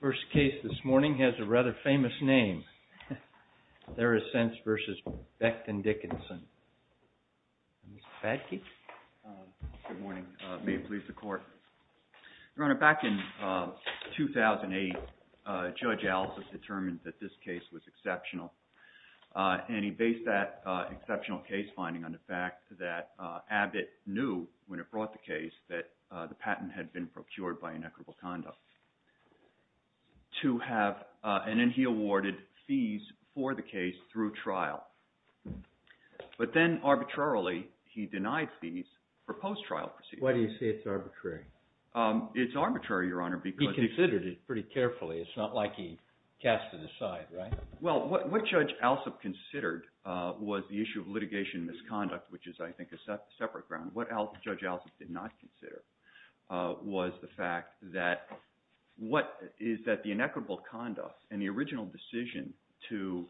First case this morning has a rather famous name, Therasense v. Becton, Dickinson. Mr. Batke? Good morning. May it please the Court? Your Honor, back in 2008, Judge Allison determined that this case was exceptional, and he based that exceptional case finding on the fact that Abbott knew, when it brought the case, that the patent had been procured by inequitable conduct. And then he awarded fees for the case through trial. But then, arbitrarily, he denied fees for post-trial proceedings. Why do you say it's arbitrary? It's arbitrary, Your Honor, because... He considered it pretty carefully. It's not like he cast it aside, right? Well, what Judge Alsop considered was the issue of litigation misconduct, which is, I think, a separate ground. What Judge Alsop did not consider was the fact that what is that the inequitable conduct and the original decision to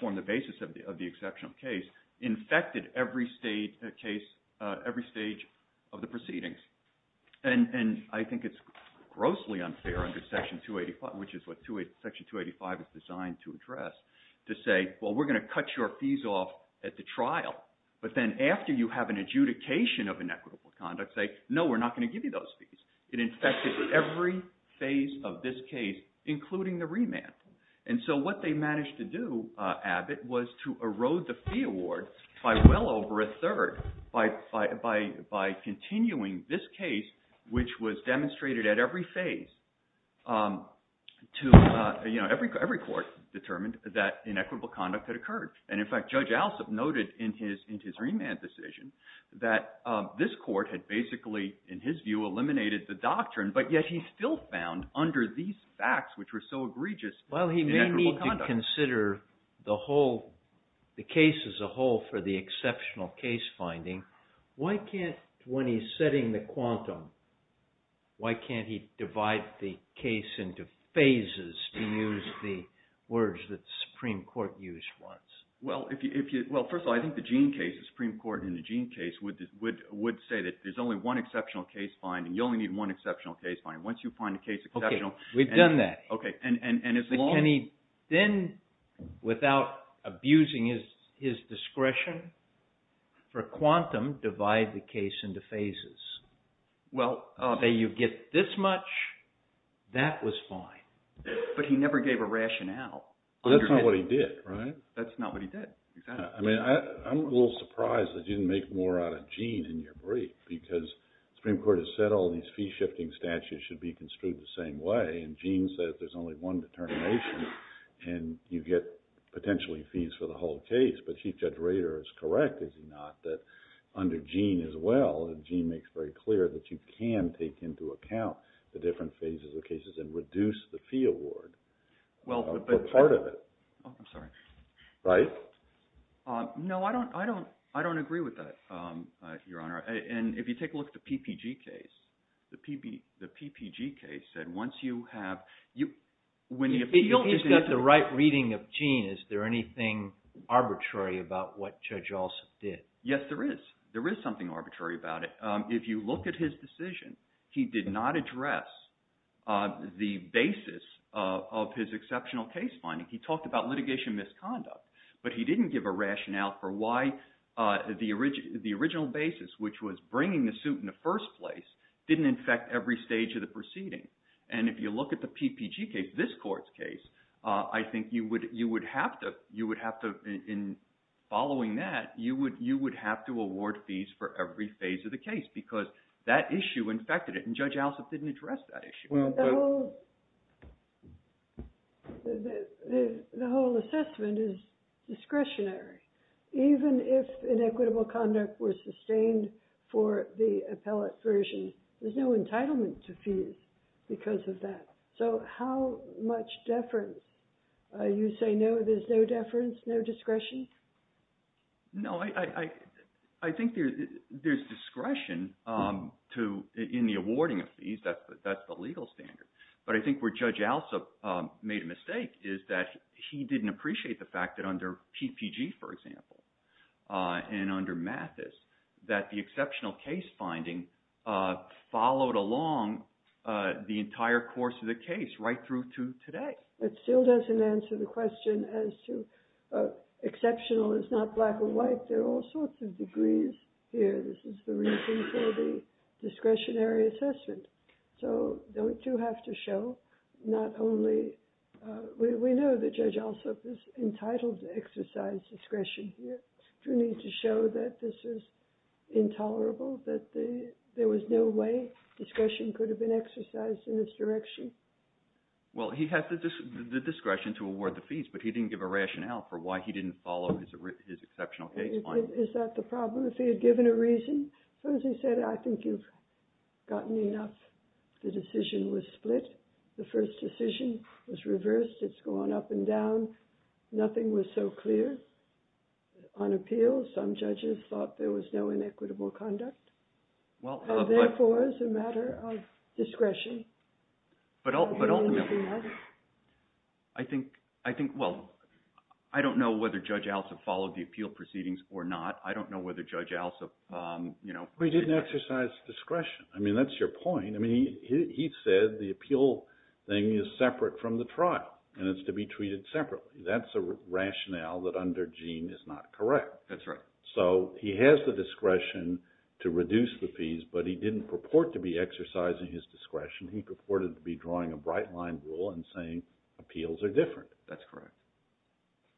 form the basis of the exceptional case infected every stage of the proceedings. And I think it's grossly unfair under Section 285, which is what Section 285 is designed to address, to say, well, we're going to cut your fees off at the trial. But then after you have an adjudication of inequitable conduct, say, no, we're not going to give you those fees. It infected every phase of this case, including the remand. And so what they managed to do, Abbott, was to erode the fee award by well over a third by continuing this case, which was demonstrated at every phase, to, you know, And in fact, Judge Alsop noted in his remand decision that this court had basically, in his view, eliminated the doctrine, but yet he still found under these facts, which were so egregious, inequitable conduct. Well, he may need to consider the case as a whole for the exceptional case finding. Why can't, when he's setting the quantum, why can't he divide the case into phases, to use the words that the Supreme Court used once? Well, first of all, I think the Gene case, the Supreme Court in the Gene case would say that there's only one exceptional case finding. You only need one exceptional case finding. Once you find a case exceptional. Okay, we've done that. Then, without abusing his discretion, for quantum, divide the case into phases. Well, you get this much, that was fine, but he never gave a rationale. Well, that's not what he did, right? That's not what he did. I mean, I'm a little surprised that you didn't make more out of Gene in your brief, because the Supreme Court has said all these fee-shifting statutes should be construed the same way, and Gene says there's only one determination, and you get potentially fees for the whole case. But Chief Judge Rader is correct, is he not, that under Gene as well, Gene makes very clear that you can take into account the different phases of cases and reduce the fee award. Well, but – Or part of it. I'm sorry. Right? No, I don't agree with that, Your Honor. And if you take a look at the PPG case, the PPG case said once you have – If he's got the right reading of Gene, is there anything arbitrary about what Judge Alsop did? Yes, there is. There is something arbitrary about it. If you look at his decision, he did not address the basis of his exceptional case finding. He talked about litigation misconduct, but he didn't give a rationale for why the original basis, which was bringing the suit in the first place, didn't infect every stage of the proceeding. And if you look at the PPG case, this court's case, I think you would have to, in following that, you would have to award fees for every phase of the case because that issue infected it, and Judge Alsop didn't address that issue. The whole assessment is discretionary. Even if inequitable conduct was sustained for the appellate version, there's no entitlement to fees because of that. So how much deference? You say no, there's no deference, no discretion? No, I think there's discretion in the awarding of fees. That's the legal standard. But I think where Judge Alsop made a mistake is that he didn't appreciate the fact that under PPG, for example, and under Mathis, that the exceptional case finding followed along the entire course of the case right through to today. It still doesn't answer the question as to exceptional is not black or white. There are all sorts of degrees here. This is the reason for the discretionary assessment. So don't you have to show not only – we know that Judge Alsop is entitled to exercise discretion here. Do you need to show that this is intolerable, that there was no way discretion could have been exercised in this direction? Well, he had the discretion to award the fees, but he didn't give a rationale for why he didn't follow his exceptional case finding. Is that the problem? If he had given a reason, as he said, I think you've gotten enough. The decision was split. The first decision was reversed. It's gone up and down. Nothing was so clear. On appeal, some judges thought there was no inequitable conduct. Therefore, it's a matter of discretion. I think – well, I don't know whether Judge Alsop followed the appeal proceedings or not. I don't know whether Judge Alsop – But he didn't exercise discretion. I mean, that's your point. I mean, he said the appeal thing is separate from the trial, and it's to be treated separately. That's a rationale that under Gene is not correct. That's right. So he has the discretion to reduce the fees, but he didn't purport to be exercising his discretion. He purported to be drawing a bright-line rule and saying appeals are different. That's correct.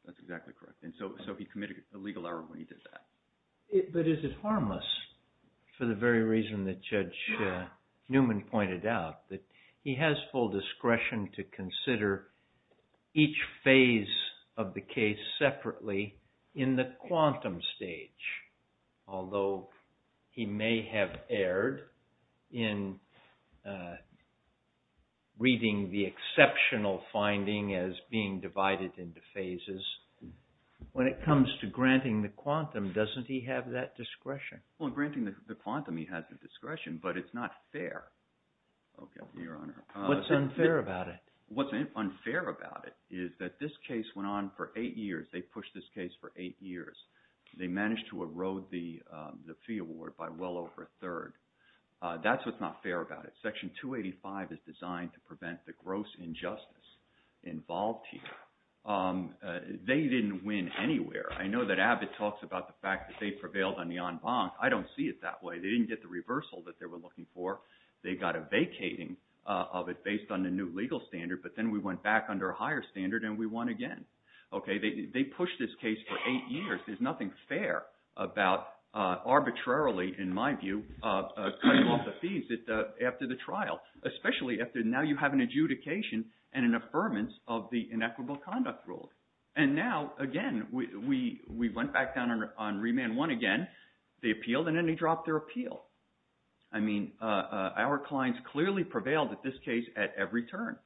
That's exactly correct. And so he committed a legal error when he did that. But is it harmless for the very reason that Judge Newman pointed out, that he has full discretion to consider each phase of the case separately in the quantum stage, although he may have erred in reading the exceptional finding as being divided into phases? When it comes to granting the quantum, doesn't he have that discretion? Well, in granting the quantum, he has the discretion, but it's not fair. Okay, Your Honor. What's unfair about it? What's unfair about it is that this case went on for eight years. They pushed this case for eight years. They managed to erode the fee award by well over a third. That's what's not fair about it. Section 285 is designed to prevent the gross injustice involved here. They didn't win anywhere. I know that Abbott talks about the fact that they prevailed on the en banc. I don't see it that way. They didn't get the reversal that they were looking for. They got a vacating of it based on the new legal standard, but then we went back under a higher standard and we won again. Okay, they pushed this case for eight years. There's nothing fair about arbitrarily, in my view, cutting off the fees after the trial, especially after now you have an adjudication and an affirmance of the inequitable conduct rule. And now, again, we went back down on remand one again. They appealed and then they dropped their appeal. I mean our clients clearly prevailed at this case at every turn.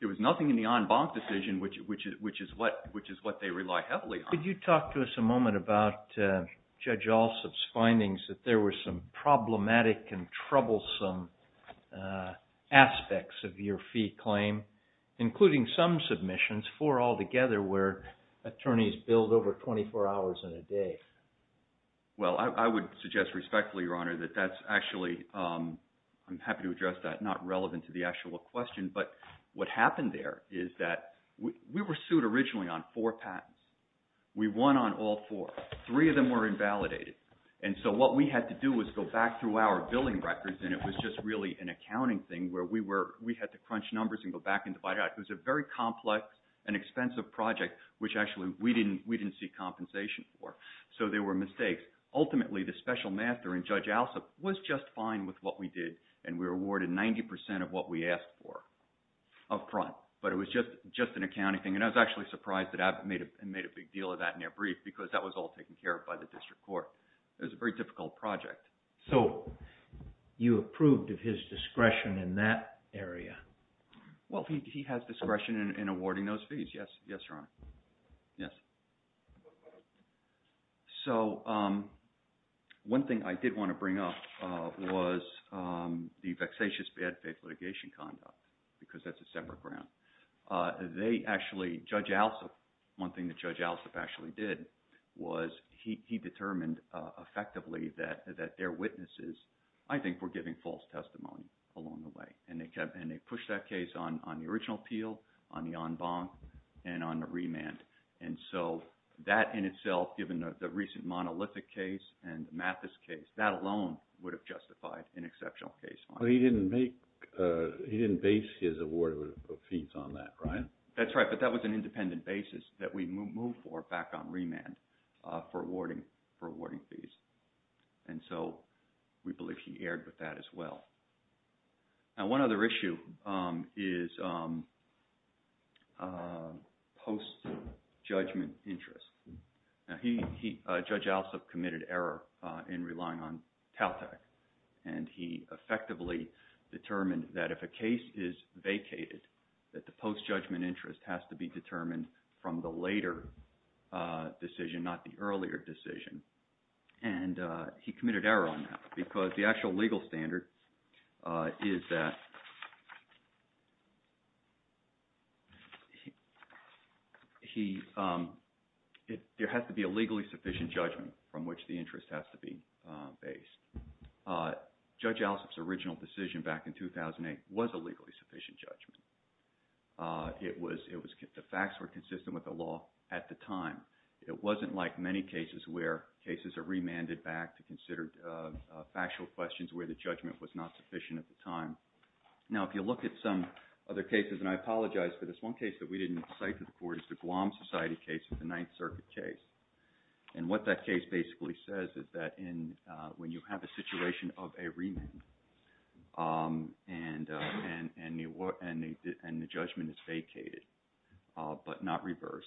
There was nothing in the en banc decision, which is what they rely heavily on. Could you talk to us a moment about Judge Alsup's findings, that there were some problematic and troublesome aspects of your fee claim, including some submissions, four altogether, where attorneys billed over 24 hours in a day. Well, I would suggest respectfully, Your Honor, that that's actually, I'm happy to address that, not relevant to the actual question, but what happened there is that we were sued originally on four patents. We won on all four. Three of them were invalidated. And so what we had to do was go back through our billing records, and it was just really an accounting thing where we had to crunch numbers and go back and divide it out. It was a very complex and expensive project, which actually we didn't see compensation for. So there were mistakes. Ultimately, the special master in Judge Alsup was just fine with what we did, and we were awarded 90% of what we asked for up front. But it was just an accounting thing. And I was actually surprised that Abbott made a big deal of that in their brief because that was all taken care of by the district court. It was a very difficult project. So you approved of his discretion in that area? Well, he has discretion in awarding those fees. Yes, Your Honor. Yes. So one thing I did want to bring up was the vexatious bad faith litigation conduct because that's a separate ground. They actually, Judge Alsup, one thing that Judge Alsup actually did was he determined effectively that their witnesses, I think, were giving false testimony along the way. And they pushed that case on the original appeal, on the en banc, and on the remand. And so that in itself, given the recent monolithic case and Mathis case, that alone would have justified an exceptional case. But he didn't base his award of fees on that, right? That's right. But that was an independent basis that we moved for back on remand for awarding fees. And so we believe he erred with that as well. Now, one other issue is post-judgment interest. Now, Judge Alsup committed error in relying on TALTAC. And he effectively determined that if a case is vacated, that the post-judgment interest has to be determined from the later decision, not the earlier decision. And he committed error on that because the actual legal standard is that there has to be a legally sufficient judgment from which the interest has to be based. Judge Alsup's original decision back in 2008 was a legally sufficient judgment. The facts were consistent with the law at the time. It wasn't like many cases where cases are remanded back to consider factual questions where the judgment was not sufficient at the time. Now, if you look at some other cases, and I apologize for this, one case that we didn't cite to the court is the Guam Society case, the Ninth Circuit case. And what that case basically says is that when you have a situation of a remand and the judgment is vacated but not reversed,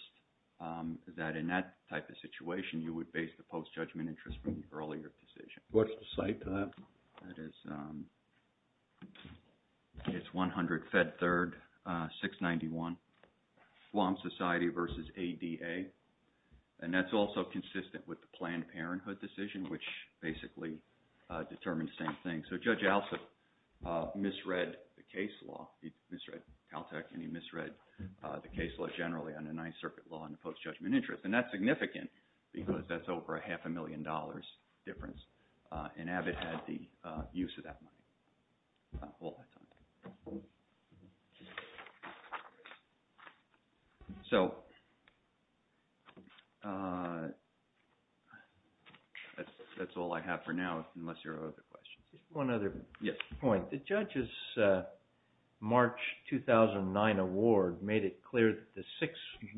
that in that type of situation, you would base the post-judgment interest from the earlier decision. What's the cite to that? It's 100 Fed Third 691, Guam Society versus ADA. And that's also consistent with the Planned Parenthood decision, which basically determines the same thing. So Judge Alsup misread the case law, he misread TALTAC, and he misread the case law generally on the Ninth Circuit law on the post-judgment interest. And that's significant because that's over a half a million dollars difference, and Abbott had the use of that money all that time. So that's all I have for now, unless there are other questions. One other point. The judge's March 2009 award made it clear that the $6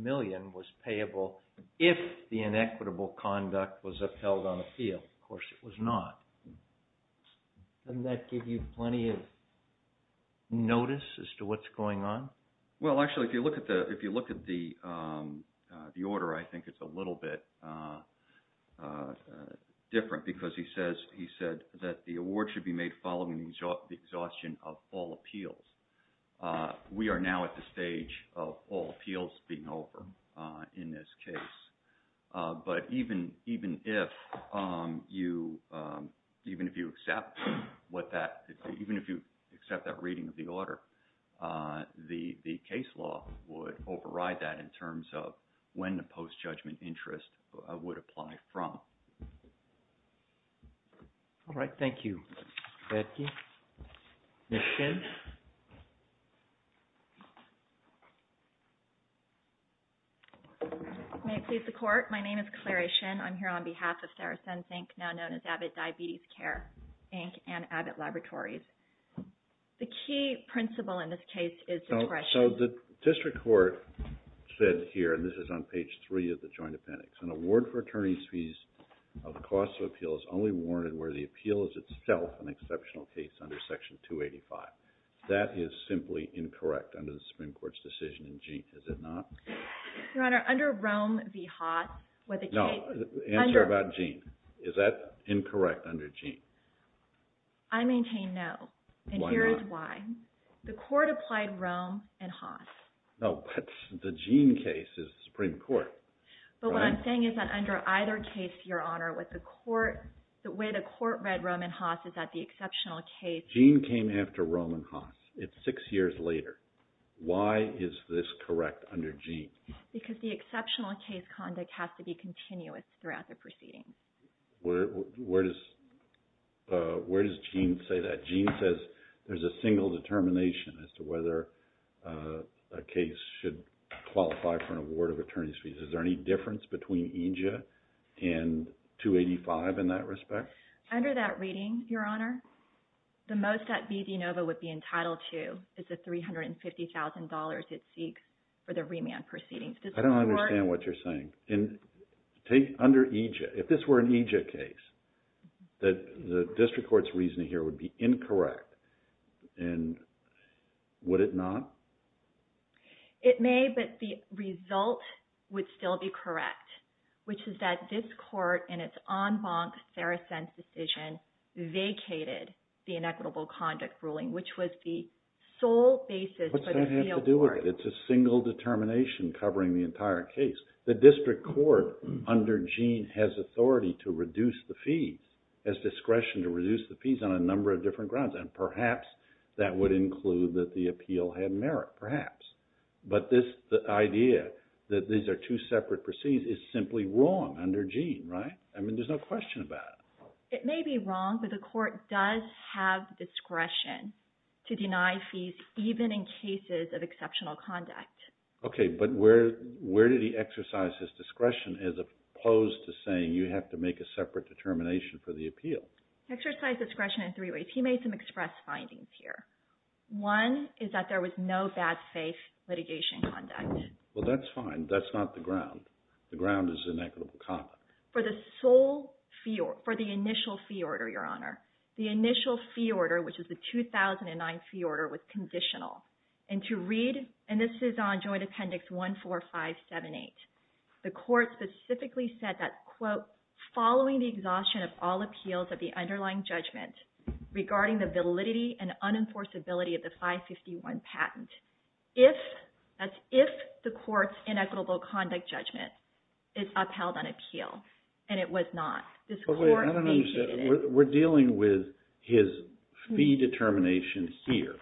million was payable if the inequitable conduct was upheld on appeal. Of course, it was not. Doesn't that give you plenty of notice as to what's going on? Well, actually, if you look at the order, I think it's a little bit different because he said that the award should be made following the exhaustion of all appeals. We are now at the stage of all appeals being over in this case. But even if you accept that reading of the order, the case law would override that in terms of when the post-judgment interest would apply from. All right. Thank you, Becky. Ms. Shin. May it please the Court. My name is Clary Shin. I'm here on behalf of Saracen, Inc., now known as Abbott Diabetes Care, Inc., and Abbott Laboratories. The key principle in this case is discretion. So the district court said here, and this is on page 3 of the joint appendix, an award for attorney's fees of the cost of appeal is only warranted where the appeal is itself an exceptional case under Section 285. That is simply incorrect under the Supreme Court's decision in Jeanne. Is it not? Your Honor, under Rome v. Haas, where the case – No. Answer about Jeanne. Is that incorrect under Jeanne? I maintain no. And here is why. The Court applied Rome and Haas. No. The Jeanne case is the Supreme Court. But what I'm saying is that under either case, Your Honor, the way the Court read Rome and Haas is that the exceptional case – Jeanne came after Rome and Haas. It's six years later. Why is this correct under Jeanne? Because the exceptional case conduct has to be continuous throughout the proceedings. Where does Jeanne say that? Jeanne says there's a single determination as to whether a case should qualify for an award of attorney's fees. Is there any difference between EJ and 285 in that respect? Under that reading, Your Honor, the most that B. DeNova would be entitled to is the $350,000 it seeks for the remand proceedings. I don't understand what you're saying. Under EJ, if this were an EJ case, the District Court's reasoning here would be incorrect. And would it not? It may, but the result would still be correct, which is that this Court, in its en banc sericense decision, vacated the inequitable conduct ruling, which was the sole basis for the fieldwork. It has nothing to do with it. It's a single determination covering the entire case. The District Court, under Jeanne, has authority to reduce the fees, has discretion to reduce the fees, on a number of different grounds. And perhaps that would include that the appeal had merit. Perhaps. But this idea that these are two separate proceedings is simply wrong under Jeanne, right? I mean, there's no question about it. It may be wrong, but the Court does have discretion to deny fees, even in cases of exceptional conduct. Okay, but where did he exercise his discretion as opposed to saying, you have to make a separate determination for the appeal? He exercised discretion in three ways. He made some express findings here. One is that there was no bad faith litigation conduct. Well, that's fine. That's not the ground. The ground is inequitable conduct. For the initial fee order, Your Honor, the initial fee order, which is the 2009 fee order, was conditional. And to read, and this is on Joint Appendix 14578, the Court specifically said that, quote, following the exhaustion of all appeals of the underlying judgment, regarding the validity and unenforceability of the 551 patent, if the Court's inequitable conduct judgment is upheld on appeal, and it was not, this Court stated it. We're dealing with his fee determination here.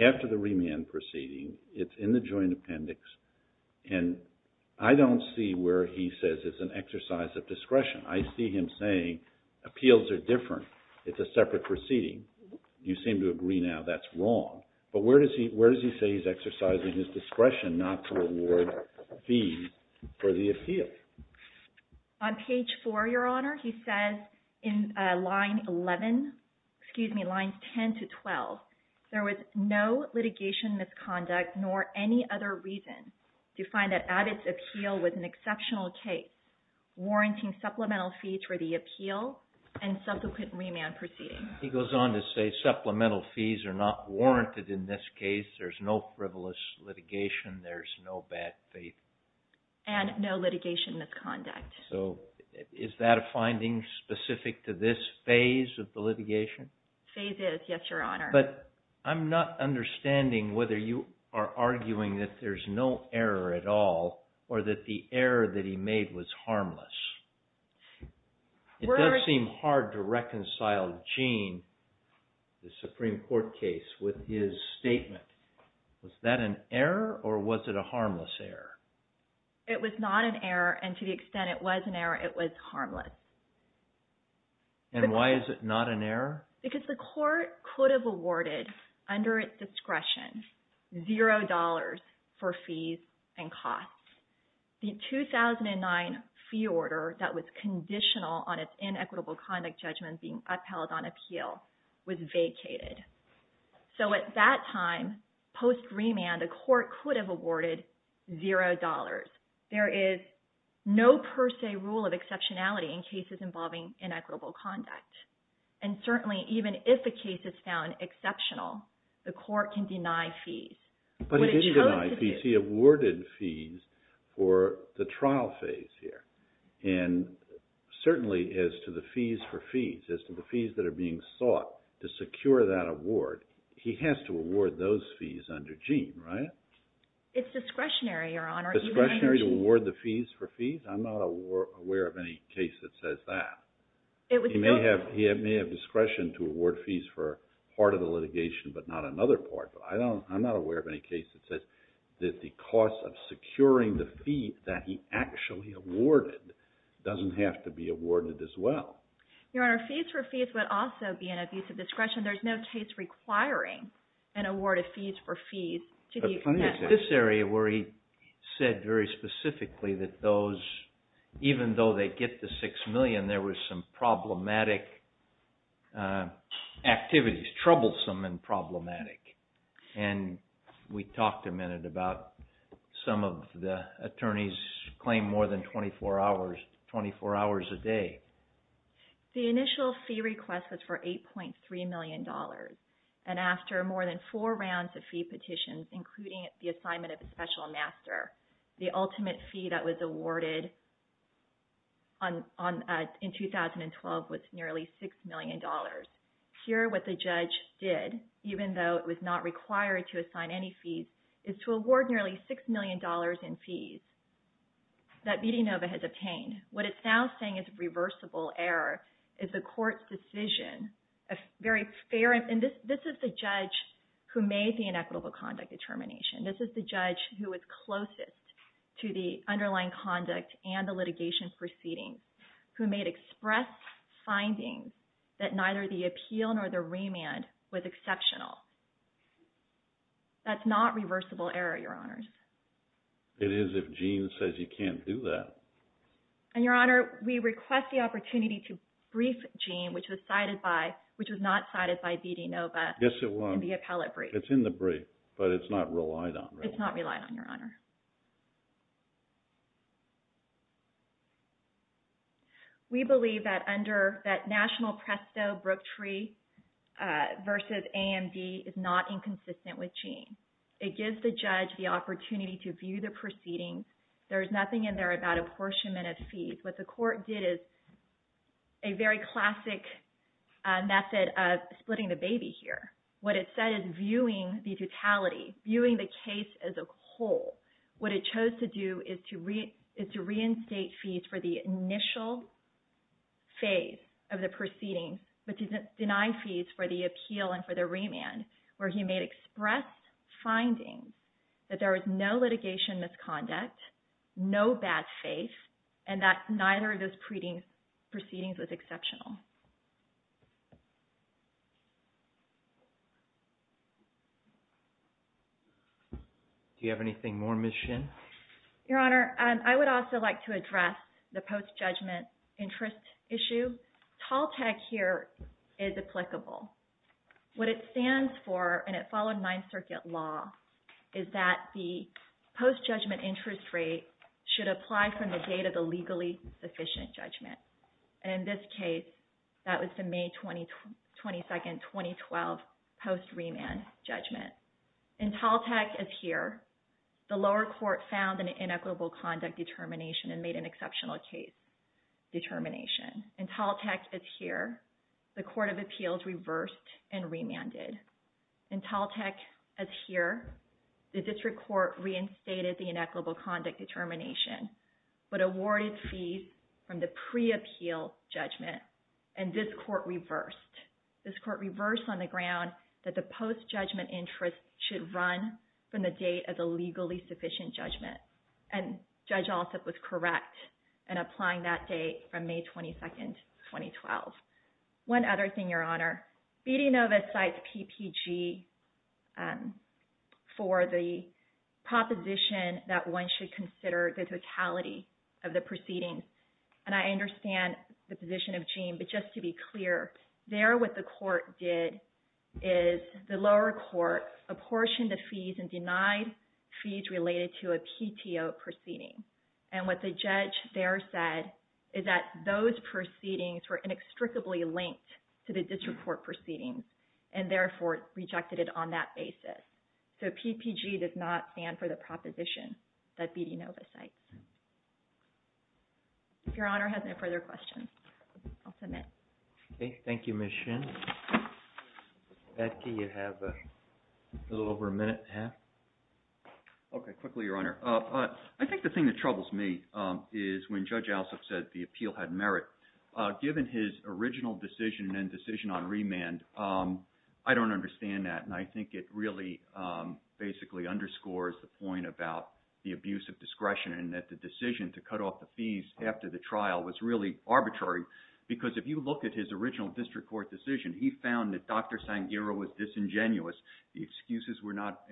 After the remand proceeding, it's in the Joint Appendix, and I don't see where he says it's an exercise of discretion. I see him saying appeals are different. It's a separate proceeding. You seem to agree now that's wrong. But where does he say he's exercising his discretion not to award fees for the appeal? On page 4, Your Honor, he says in line 11, excuse me, lines 10 to 12, there was no litigation misconduct nor any other reason to find that Abbott's appeal was an exceptional case, warranting supplemental fees for the appeal and subsequent remand proceedings. He goes on to say supplemental fees are not warranted in this case. There's no frivolous litigation. There's no bad faith. And no litigation misconduct. So is that a finding specific to this phase of the litigation? Phase is, yes, Your Honor. But I'm not understanding whether you are arguing that there's no error at all, or that the error that he made was harmless. It does seem hard to reconcile Gene, the Supreme Court case, with his statement. Was that an error, or was it a harmless error? It was not an error, and to the extent it was an error, it was harmless. And why is it not an error? Because the court could have awarded, under its discretion, zero dollars for fees and costs. The 2009 fee order that was conditional on its inequitable conduct judgment being upheld on appeal was vacated. So at that time, post remand, the court could have awarded zero dollars. There is no per se rule of exceptionality in cases involving inequitable conduct. And certainly, even if a case is found exceptional, the court can deny fees. But he didn't deny fees. He awarded fees for the trial phase here. And certainly, as to the fees for fees, as to the fees that are being sought to secure that award, he has to award those fees under Gene, right? It's discretionary, Your Honor. Discretionary to award the fees for fees? I'm not aware of any case that says that. He may have discretion to award fees for part of the litigation, but not another part. I'm not aware of any case that says that the cost of securing the fee that he actually awarded doesn't have to be awarded as well. Your Honor, fees for fees would also be an abuse of discretion. There's no case requiring an award of fees for fees to the extent that… Even though they get the six million, there were some problematic activities. Troublesome and problematic. And we talked a minute about some of the attorneys claim more than 24 hours a day. The initial fee request was for $8.3 million. And after more than four rounds of fee petitions, including the assignment of a special master, the ultimate fee that was awarded in 2012 was nearly $6 million. Here, what the judge did, even though it was not required to assign any fees, is to award nearly $6 million in fees that Medianova has obtained. What it's now saying is reversible error. It's a court's decision, a very fair… And this is the judge who made the inequitable conduct determination. This is the judge who was closest to the underlying conduct and the litigation proceedings, who made express findings that neither the appeal nor the remand was exceptional. That's not reversible error, Your Honors. It is if Gene says you can't do that. And, Your Honor, we request the opportunity to brief Gene, which was not cited by Medianova… Yes, it was. …in the appellate brief. It's in the brief, but it's not relied on, really. It's not relied on, Your Honor. We believe that under that national presto brook tree versus AMD is not inconsistent with Gene. It gives the judge the opportunity to view the proceedings. There is nothing in there about apportionment of fees. What the court did is a very classic method of splitting the baby here. What it said is viewing the totality, viewing the case as a whole. What it chose to do is to reinstate fees for the initial phase of the proceedings, but to deny fees for the appeal and for the remand, where he made expressed findings that there was no litigation misconduct, no bad faith, and that neither of those proceedings was exceptional. Do you have anything more, Ms. Shin? Your Honor, I would also like to address the post-judgment interest issue. Tall tag here is applicable. What it stands for, and it followed Ninth Circuit law, is that the post-judgment interest rate should apply from the date of the legally sufficient judgment. In this case, that was the May 22, 2012 post-remand judgment. In tall tag is here, the lower court found an inequitable conduct determination and made an exceptional case determination. In tall tag is here, the court of appeals reversed and remanded. In tall tag is here, the district court reinstated the inequitable conduct determination, but awarded fees from the pre-appeal judgment, and this court reversed. This court reversed on the ground that the post-judgment interest should run from the date of the legally sufficient judgment, and Judge Alsup was correct in applying that date from May 22, 2012. One other thing, Your Honor. BD Nova cites PPG for the proposition that one should consider the totality of the proceedings. And I understand the position of Gene, but just to be clear, there what the court did is the lower court apportioned the fees and denied fees related to a PTO proceeding. And what the judge there said is that those proceedings were inextricably linked to the district court proceedings, and therefore rejected it on that basis. So PPG does not stand for the proposition that BD Nova cites. If Your Honor has no further questions, I'll submit. Okay. Thank you, Ms. Shin. Becky, you have a little over a minute and a half. Okay. Quickly, Your Honor. I think the thing that troubles me is when Judge Alsup said the appeal had merit, given his original decision and decision on remand, I don't understand that. And I think it really basically underscores the point about the abuse of discretion and that the decision to cut off the fees after the trial was really arbitrary because if you look at his original district court decision, he found that Dr. Sangheira was disingenuous. The excuses were not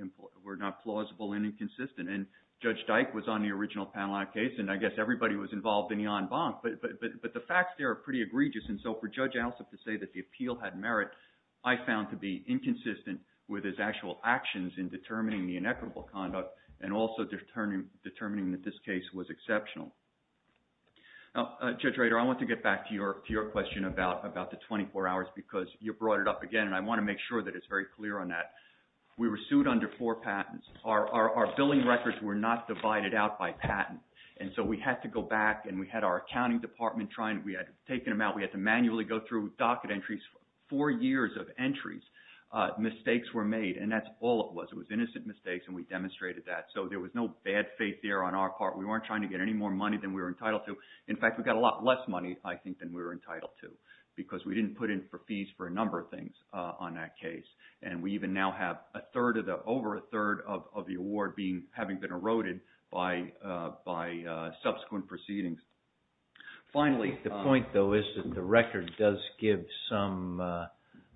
plausible and inconsistent. And Judge Dyke was on the original panel on a case, and I guess everybody was involved in Jan Bank, but the facts there are pretty egregious. And so for Judge Alsup to say that the appeal had merit, I found to be inconsistent with his actual actions in determining the inequitable conduct and also determining that this case was exceptional. Now, Judge Rader, I want to get back to your question about the 24 hours because you brought it up again, and I want to make sure that it's very clear on that. We were sued under four patents. Our billing records were not divided out by patent, and so we had to go back and we had our accounting department trying. We had taken them out. We had to manually go through docket entries. Four years of entries, mistakes were made, and that's all it was. It was innocent mistakes, and we demonstrated that. So there was no bad faith there on our part. We weren't trying to get any more money than we were entitled to. In fact, we got a lot less money, I think, than we were entitled to because we didn't put in fees for a number of things on that case. And we even now have over a third of the award having been eroded by subsequent proceedings. The point, though, is that the record does give some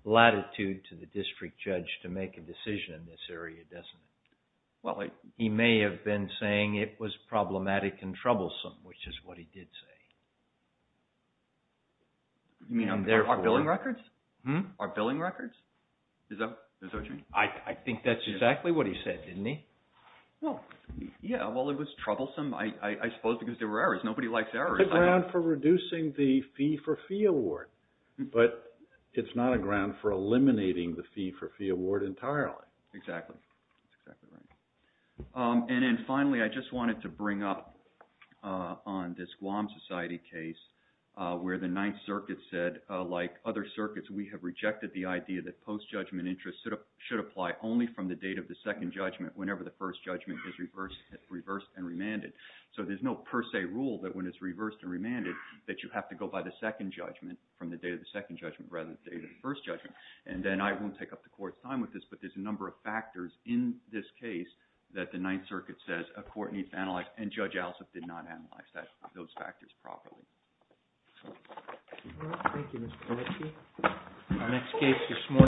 latitude to the district judge to make a decision in this area, doesn't it? He may have been saying it was problematic and troublesome, which is what he did say. You mean our billing records? Our billing records? Is that what you mean? I think that's exactly what he said, didn't he? Yeah, well, it was troublesome, I suppose, because there were errors. Nobody likes errors. It's a ground for reducing the fee-for-fee award, but it's not a ground for eliminating the fee-for-fee award entirely. Exactly. And then finally, I just wanted to bring up on this Guam Society case where the Ninth Circuit said, like other circuits, we have rejected the idea that post-judgment interest should apply only from the date of the second judgment whenever the first judgment is reversed and remanded. So there's no per se rule that when it's reversed and remanded that you have to go by the second judgment from the date of the second judgment rather than the date of the first judgment. And then I won't take up the Court's time with this, but there's a number of factors in this case that the Ninth Circuit says a Court needs to analyze, and Judge Alsop did not analyze those factors properly. Thank you, Mr. Oleksii.